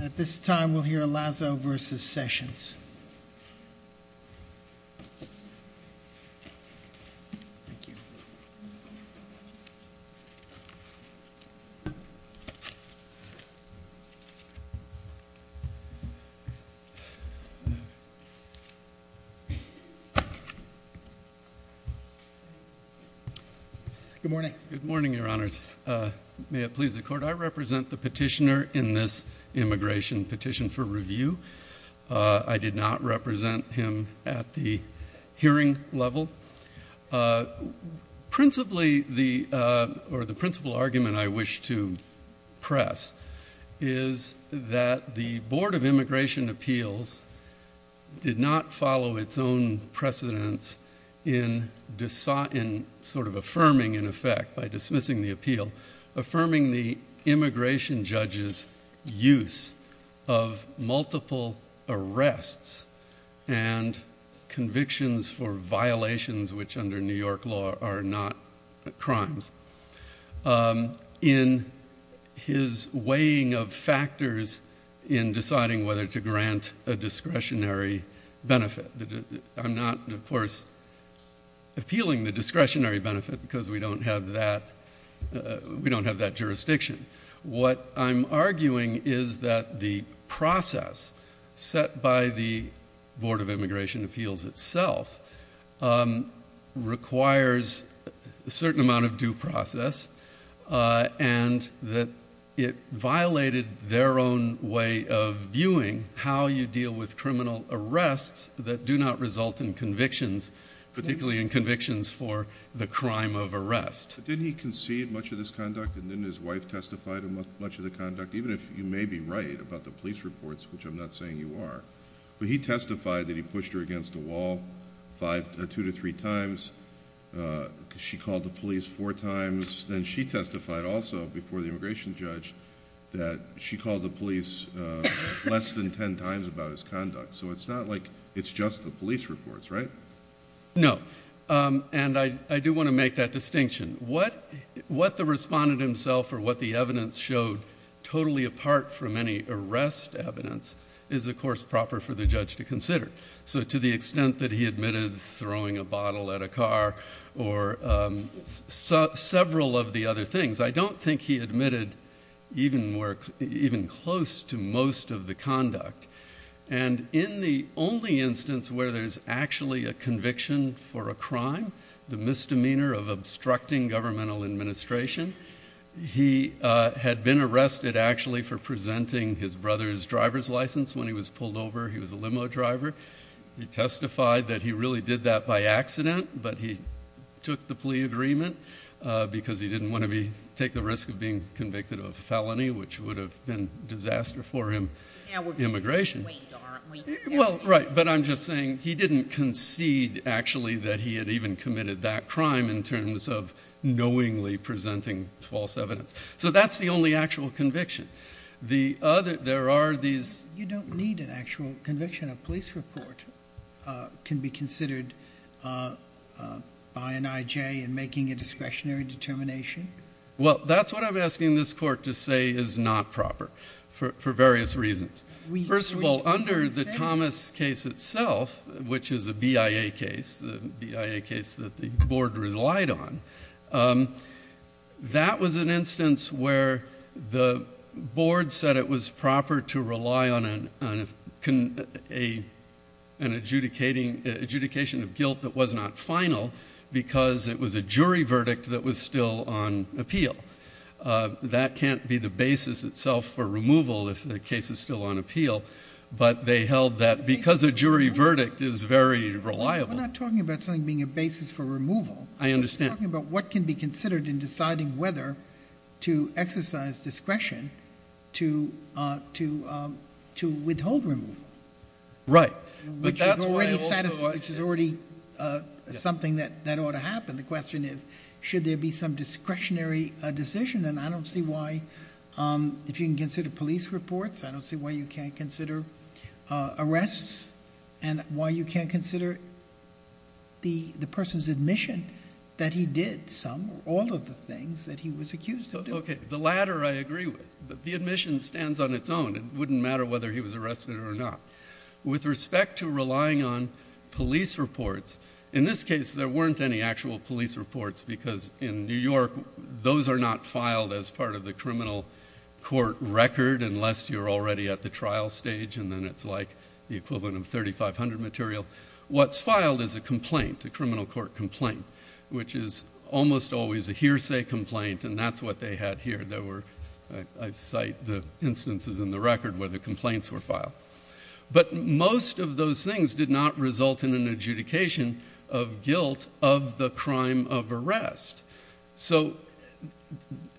At this time, we'll hear Lazo v. Sessions. Good morning. Good morning, Your Honors. May it please the Court, I represent the petitioner in this immigration petition for review. I did not represent him at the hearing level. Principally, or the principal argument I wish to press is that the Board of Immigration Appeals did not follow its own precedence in sort of affirming, in effect, by dismissing the appeal, affirming the immigration judge's use of multiple arrests and convictions for violations, which under New York law are not crimes, in his weighing of factors in deciding whether to grant a discretionary benefit. I'm not, of course, appealing the discretionary benefit because we don't have that jurisdiction. What I'm arguing is that the process set by the Board of Immigration Appeals itself requires a certain amount of due process and that it violated their own way of viewing how you deal with criminal arrests that do not result in convictions, particularly in convictions for the crime of arrest. Didn't he concede much of this conduct and didn't his wife testify to much of the conduct, even if you may be right about the police reports, which I'm not saying you are? But he testified that he pushed her against a wall two to three times. She called the police four times. Then she testified also before the immigration judge that she called the police less than ten times about his conduct. So it's not like it's just the police reports, right? No. And I do want to make that distinction. What the respondent himself or what the evidence showed totally apart from any arrest evidence is, of course, proper for the judge to consider. So to the extent that he admitted throwing a bottle at a car or several of the other things, I don't think he admitted even close to most of the conduct. And in the only instance where there's actually a conviction for a crime, the misdemeanor of obstructing governmental administration, he had been arrested actually for presenting his brother's driver's license when he was pulled over. He was a limo driver. He testified that he really did that by accident, but he took the plea agreement because he didn't want to take the risk of being convicted of a felony, which would have been disaster for him, immigration. Well, right. But I'm just saying he didn't concede actually that he had even committed that crime in terms of knowingly presenting false evidence. So that's the only actual conviction. The other, there are these. You don't need an actual conviction. A police report can be considered by an IJ in making a discretionary determination. Well, that's what I'm asking this court to say is not proper for various reasons. First of all, under the Thomas case itself, which is a BIA case, the BIA case that the board relied on, that was an instance where the board said it was proper to rely on an adjudicating, adjudication of guilt that was not final because it was a jury verdict that was still on appeal. That can't be the basis itself for removal if the case is still on appeal, but they held that because a jury verdict is very reliable. We're not talking about something being a basis for removal. I understand. We're talking about what can be considered in deciding whether to exercise discretion to withhold removal. Right. Which is already something that ought to happen. The question is, should there be some discretionary decision? And I don't see why, if you can consider police reports, I don't see why you can't consider arrests and why you can't consider the person's admission that he did some or all of the things that he was accused of doing. Okay. The latter I agree with. The admission stands on its own. It wouldn't matter whether he was arrested or not. With respect to relying on police reports, in this case there weren't any actual police reports because in New York those are not filed as part of the criminal court record unless you're already at the trial stage and then it's like the equivalent of 3500 material. What's filed is a complaint, a criminal court complaint, which is almost always a hearsay complaint, and that's what they had here. I cite the instances in the record where the complaints were filed. But most of those things did not result in an adjudication of guilt of the crime of arrest. So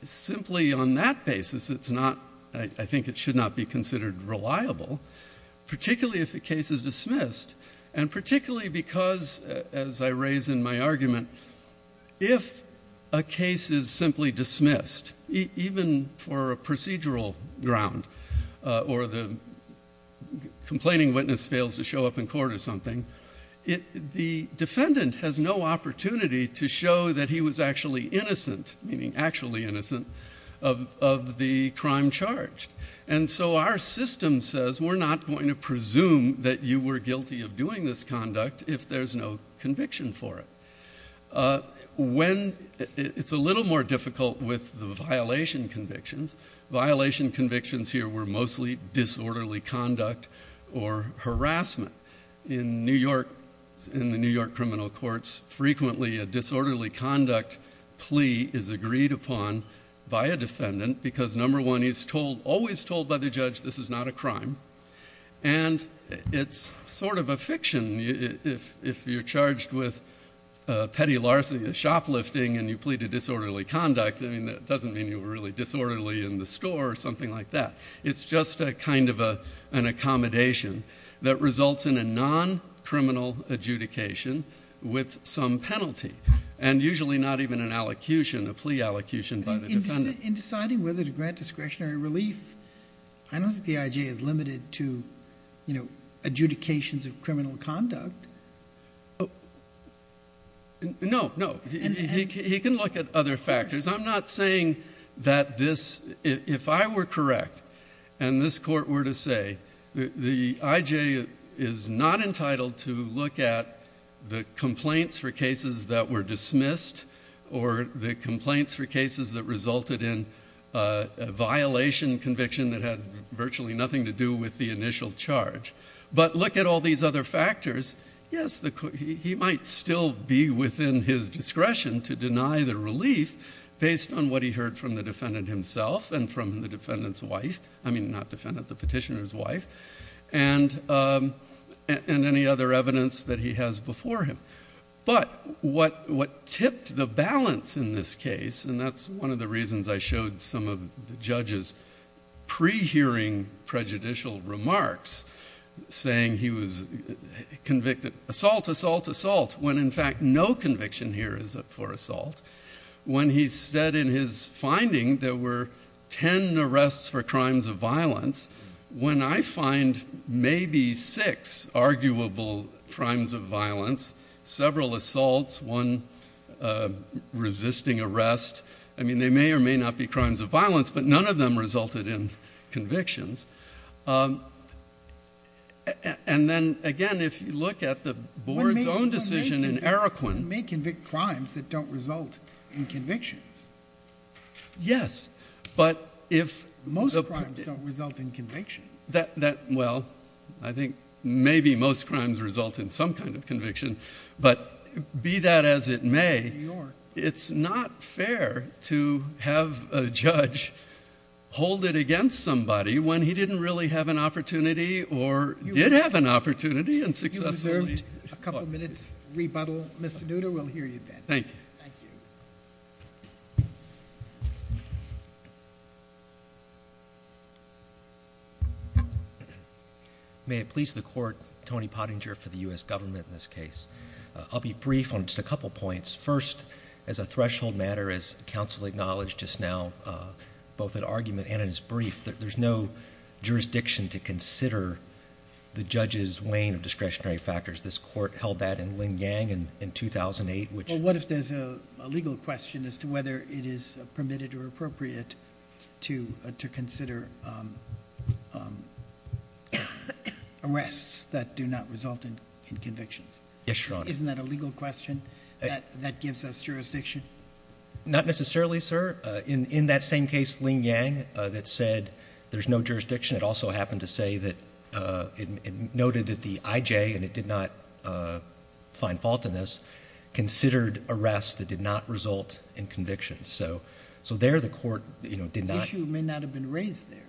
simply on that basis, I think it should not be considered reliable, particularly if the case is dismissed and particularly because, as I raise in my argument, if a case is simply dismissed, even for a procedural ground or the complaining witness fails to show up in court or something, the defendant has no opportunity to show that he was actually innocent, meaning actually innocent, of the crime charged. And so our system says we're not going to presume that you were guilty of doing this conduct if there's no conviction for it. It's a little more difficult with the violation convictions. Violation convictions here were mostly disorderly conduct or harassment. In the New York criminal courts, frequently a disorderly conduct plea is agreed upon by a defendant because, number one, he's always told by the judge this is not a crime, and it's sort of a fiction. If you're charged with petty larceny, shoplifting, and you plead to disorderly conduct, I mean, that doesn't mean you were really disorderly in the store or something like that. It's just a kind of an accommodation that results in a non-criminal adjudication with some penalty and usually not even an allocution, a plea allocution by the defendant. In deciding whether to grant discretionary relief, I don't think the I.J. is limited to adjudications of criminal conduct. No, no. He can look at other factors. I'm not saying that this, if I were correct and this court were to say the I.J. is not entitled to look at the complaints for cases that were dismissed or the complaints for cases that resulted in a violation conviction that had virtually nothing to do with the initial charge. But look at all these other factors. Yes, he might still be within his discretion to deny the relief based on what he heard from the defendant himself and from the defendant's wife, I mean, not defendant, the petitioner's wife, and any other evidence that he has before him. But what tipped the balance in this case, and that's one of the reasons I showed some of the judge's pre-hearing prejudicial remarks, saying he was convicted, assault, assault, assault, when in fact no conviction here is up for assault, when he said in his finding there were ten arrests for crimes of violence, when I find maybe six arguable crimes of violence, several assaults, one resisting arrest, I mean, they may or may not be crimes of violence, but none of them resulted in convictions. And then, again, if you look at the board's own decision in Eroquin. One may convict crimes that don't result in convictions. Yes, but if- Most crimes don't result in convictions. Well, I think maybe most crimes result in some kind of conviction, but be that as it may, it's not fair to have a judge hold it against somebody when he didn't really have an opportunity, or did have an opportunity, and successfully- You reserved a couple minutes rebuttal, Mr. Duda. We'll hear you then. Thank you. Thank you. May it please the court, Tony Pottinger for the U.S. government in this case. I'll be brief on just a couple points. First, as a threshold matter, as counsel acknowledged just now, both in argument and in his brief, there's no jurisdiction to consider the judge's weighing of discretionary factors. This court held that in Lingang in 2008, which- There's a legal question as to whether it is permitted or appropriate to consider arrests that do not result in convictions. Yes, Your Honor. Isn't that a legal question that gives us jurisdiction? Not necessarily, sir. In that same case, Lingang, that said there's no jurisdiction, it also happened to say that it noted that the IJ, and it did not find fault in this, considered arrests that did not result in convictions. So there the court did not- The issue may not have been raised there.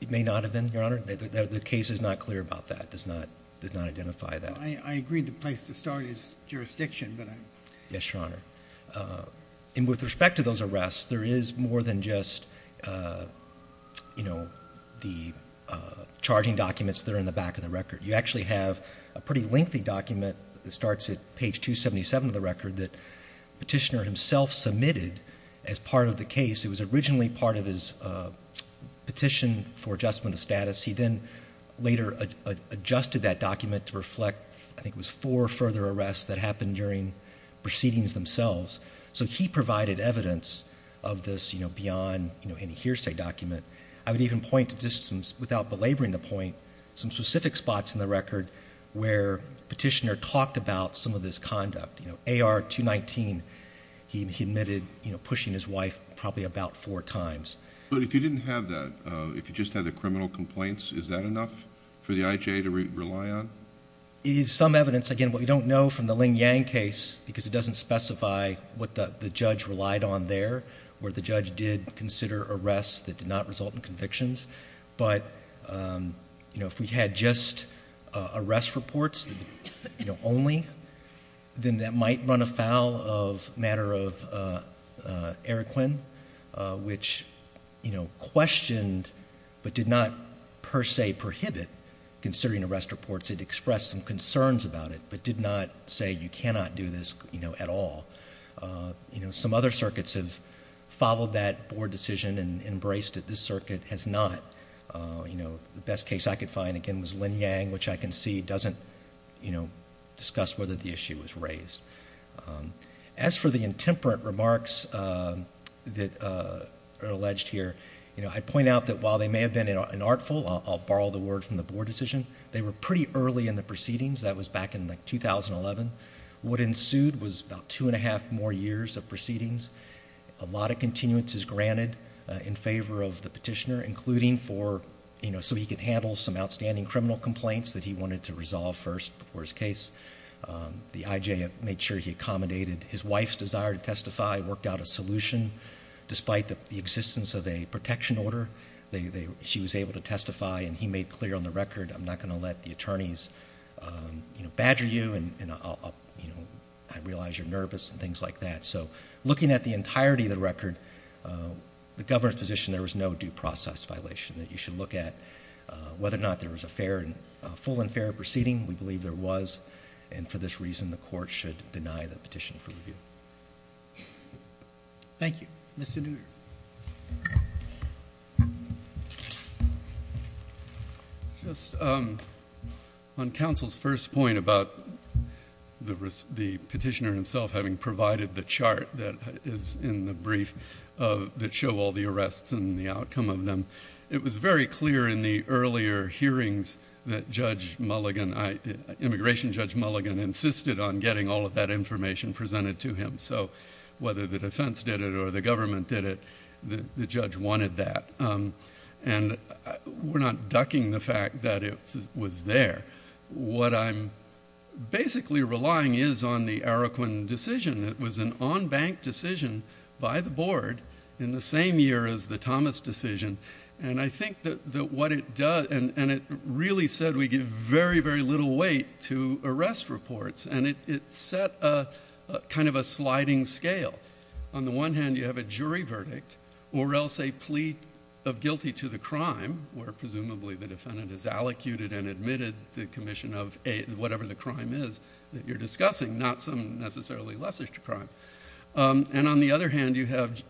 It may not have been, Your Honor. The case is not clear about that, does not identify that. I agree the place to start is jurisdiction, but I'm- Yes, Your Honor. And with respect to those arrests, there is more than just, you know, the charging documents that are in the back of the record. You actually have a pretty lengthy document that starts at page 277 of the record that Petitioner himself submitted as part of the case. It was originally part of his petition for adjustment of status. He then later adjusted that document to reflect, I think it was four further arrests that happened during proceedings themselves. So he provided evidence of this, you know, beyond, you know, any hearsay document. I would even point to just some, without belaboring the point, some specific spots in the record where Petitioner talked about some of this conduct. You know, AR 219, he admitted, you know, pushing his wife probably about four times. But if you didn't have that, if you just had the criminal complaints, is that enough for the IJ to rely on? It is some evidence. Again, what we don't know from the Ling Yang case, because it doesn't specify what the judge relied on there, where the judge did consider arrests that did not result in convictions. But, you know, if we had just arrest reports, you know, only, then that might run afoul of matter of Eric Quinn, which, you know, questioned but did not per se prohibit considering arrest reports. It expressed some concerns about it, but did not say you cannot do this, you know, at all. You know, some other circuits have followed that board decision and embraced it. This circuit has not. You know, the best case I could find, again, was Ling Yang, which I can see doesn't, you know, discuss whether the issue was raised. As for the intemperate remarks that are alleged here, you know, I'd point out that while they may have been inartful, I'll borrow the word from the board decision, they were pretty early in the proceedings. That was back in, like, 2011. What ensued was about two and a half more years of proceedings. A lot of continuances granted in favor of the petitioner, including for, you know, so he could handle some outstanding criminal complaints that he wanted to resolve first before his case. The IJ made sure he accommodated his wife's desire to testify, worked out a solution. Despite the existence of a protection order, she was able to testify, and he made clear on the record, I'm not going to let the attorneys, you know, badger you, and, you know, I realize you're nervous and things like that. So looking at the entirety of the record, the governor's position, there was no due process violation that you should look at. Whether or not there was a fair, a full and fair proceeding, we believe there was, and for this reason the court should deny the petition for review. Thank you. Mr. Duger. Thank you. Just on counsel's first point about the petitioner himself having provided the chart that is in the brief that show all the arrests and the outcome of them, it was very clear in the earlier hearings that Judge Mulligan, Immigration Judge Mulligan, insisted on getting all of that information presented to him. So whether the defense did it or the government did it, the judge wanted that, and we're not ducking the fact that it was there. What I'm basically relying is on the Araquin decision. It was an on-bank decision by the board in the same year as the Thomas decision, and I think that what it does, and it really said we give very, very little weight to arrest reports, and it set kind of a sliding scale. On the one hand, you have a jury verdict, or else a plea of guilty to the crime, where presumably the defendant has allocuted and admitted the commission of whatever the crime is that you're discussing, not some necessarily lesser crime. And on the other hand, you have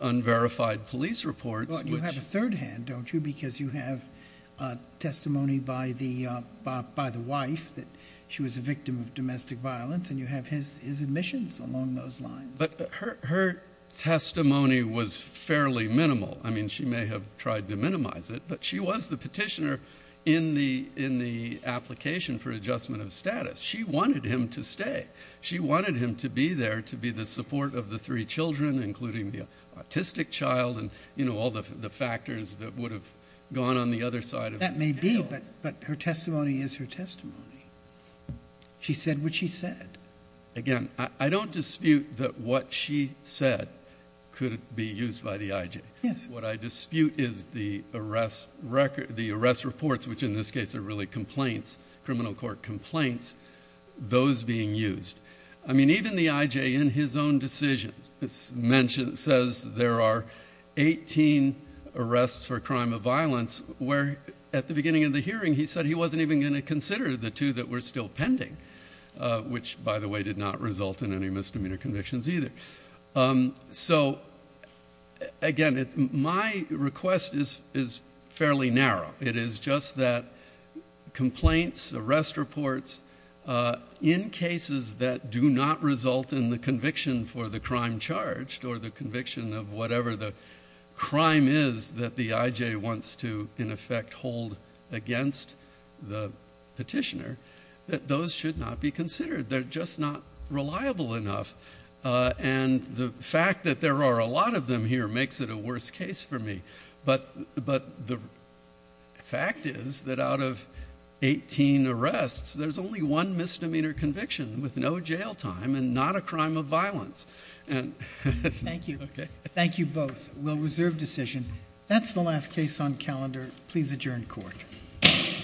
unverified police reports. You have a third hand, don't you, because you have testimony by the wife that she was a victim of domestic violence, and you have his admissions along those lines. But her testimony was fairly minimal. I mean, she may have tried to minimize it, but she was the petitioner in the application for adjustment of status. She wanted him to stay. She wanted him to be there to be the support of the three children, including the autistic child and all the factors that would have gone on the other side of the scale. That may be, but her testimony is her testimony. She said what she said. Again, I don't dispute that what she said could be used by the IJ. What I dispute is the arrest reports, which in this case are really complaints, criminal court complaints, those being used. I mean, even the IJ in his own decision says there are 18 arrests for crime of violence, where at the beginning of the hearing he said he wasn't even going to consider the two that were still pending, which, by the way, did not result in any misdemeanor convictions either. So, again, my request is fairly narrow. It is just that complaints, arrest reports in cases that do not result in the conviction for the crime charged or the conviction of whatever the crime is that the IJ wants to, in effect, hold against the petitioner, that those should not be considered. They're just not reliable enough, and the fact that there are a lot of them here makes it a worse case for me. But the fact is that out of 18 arrests, there's only one misdemeanor conviction with no jail time and not a crime of violence. Thank you. Thank you both. We'll reserve decision. That's the last case on calendar. Please adjourn court. Court is adjourned.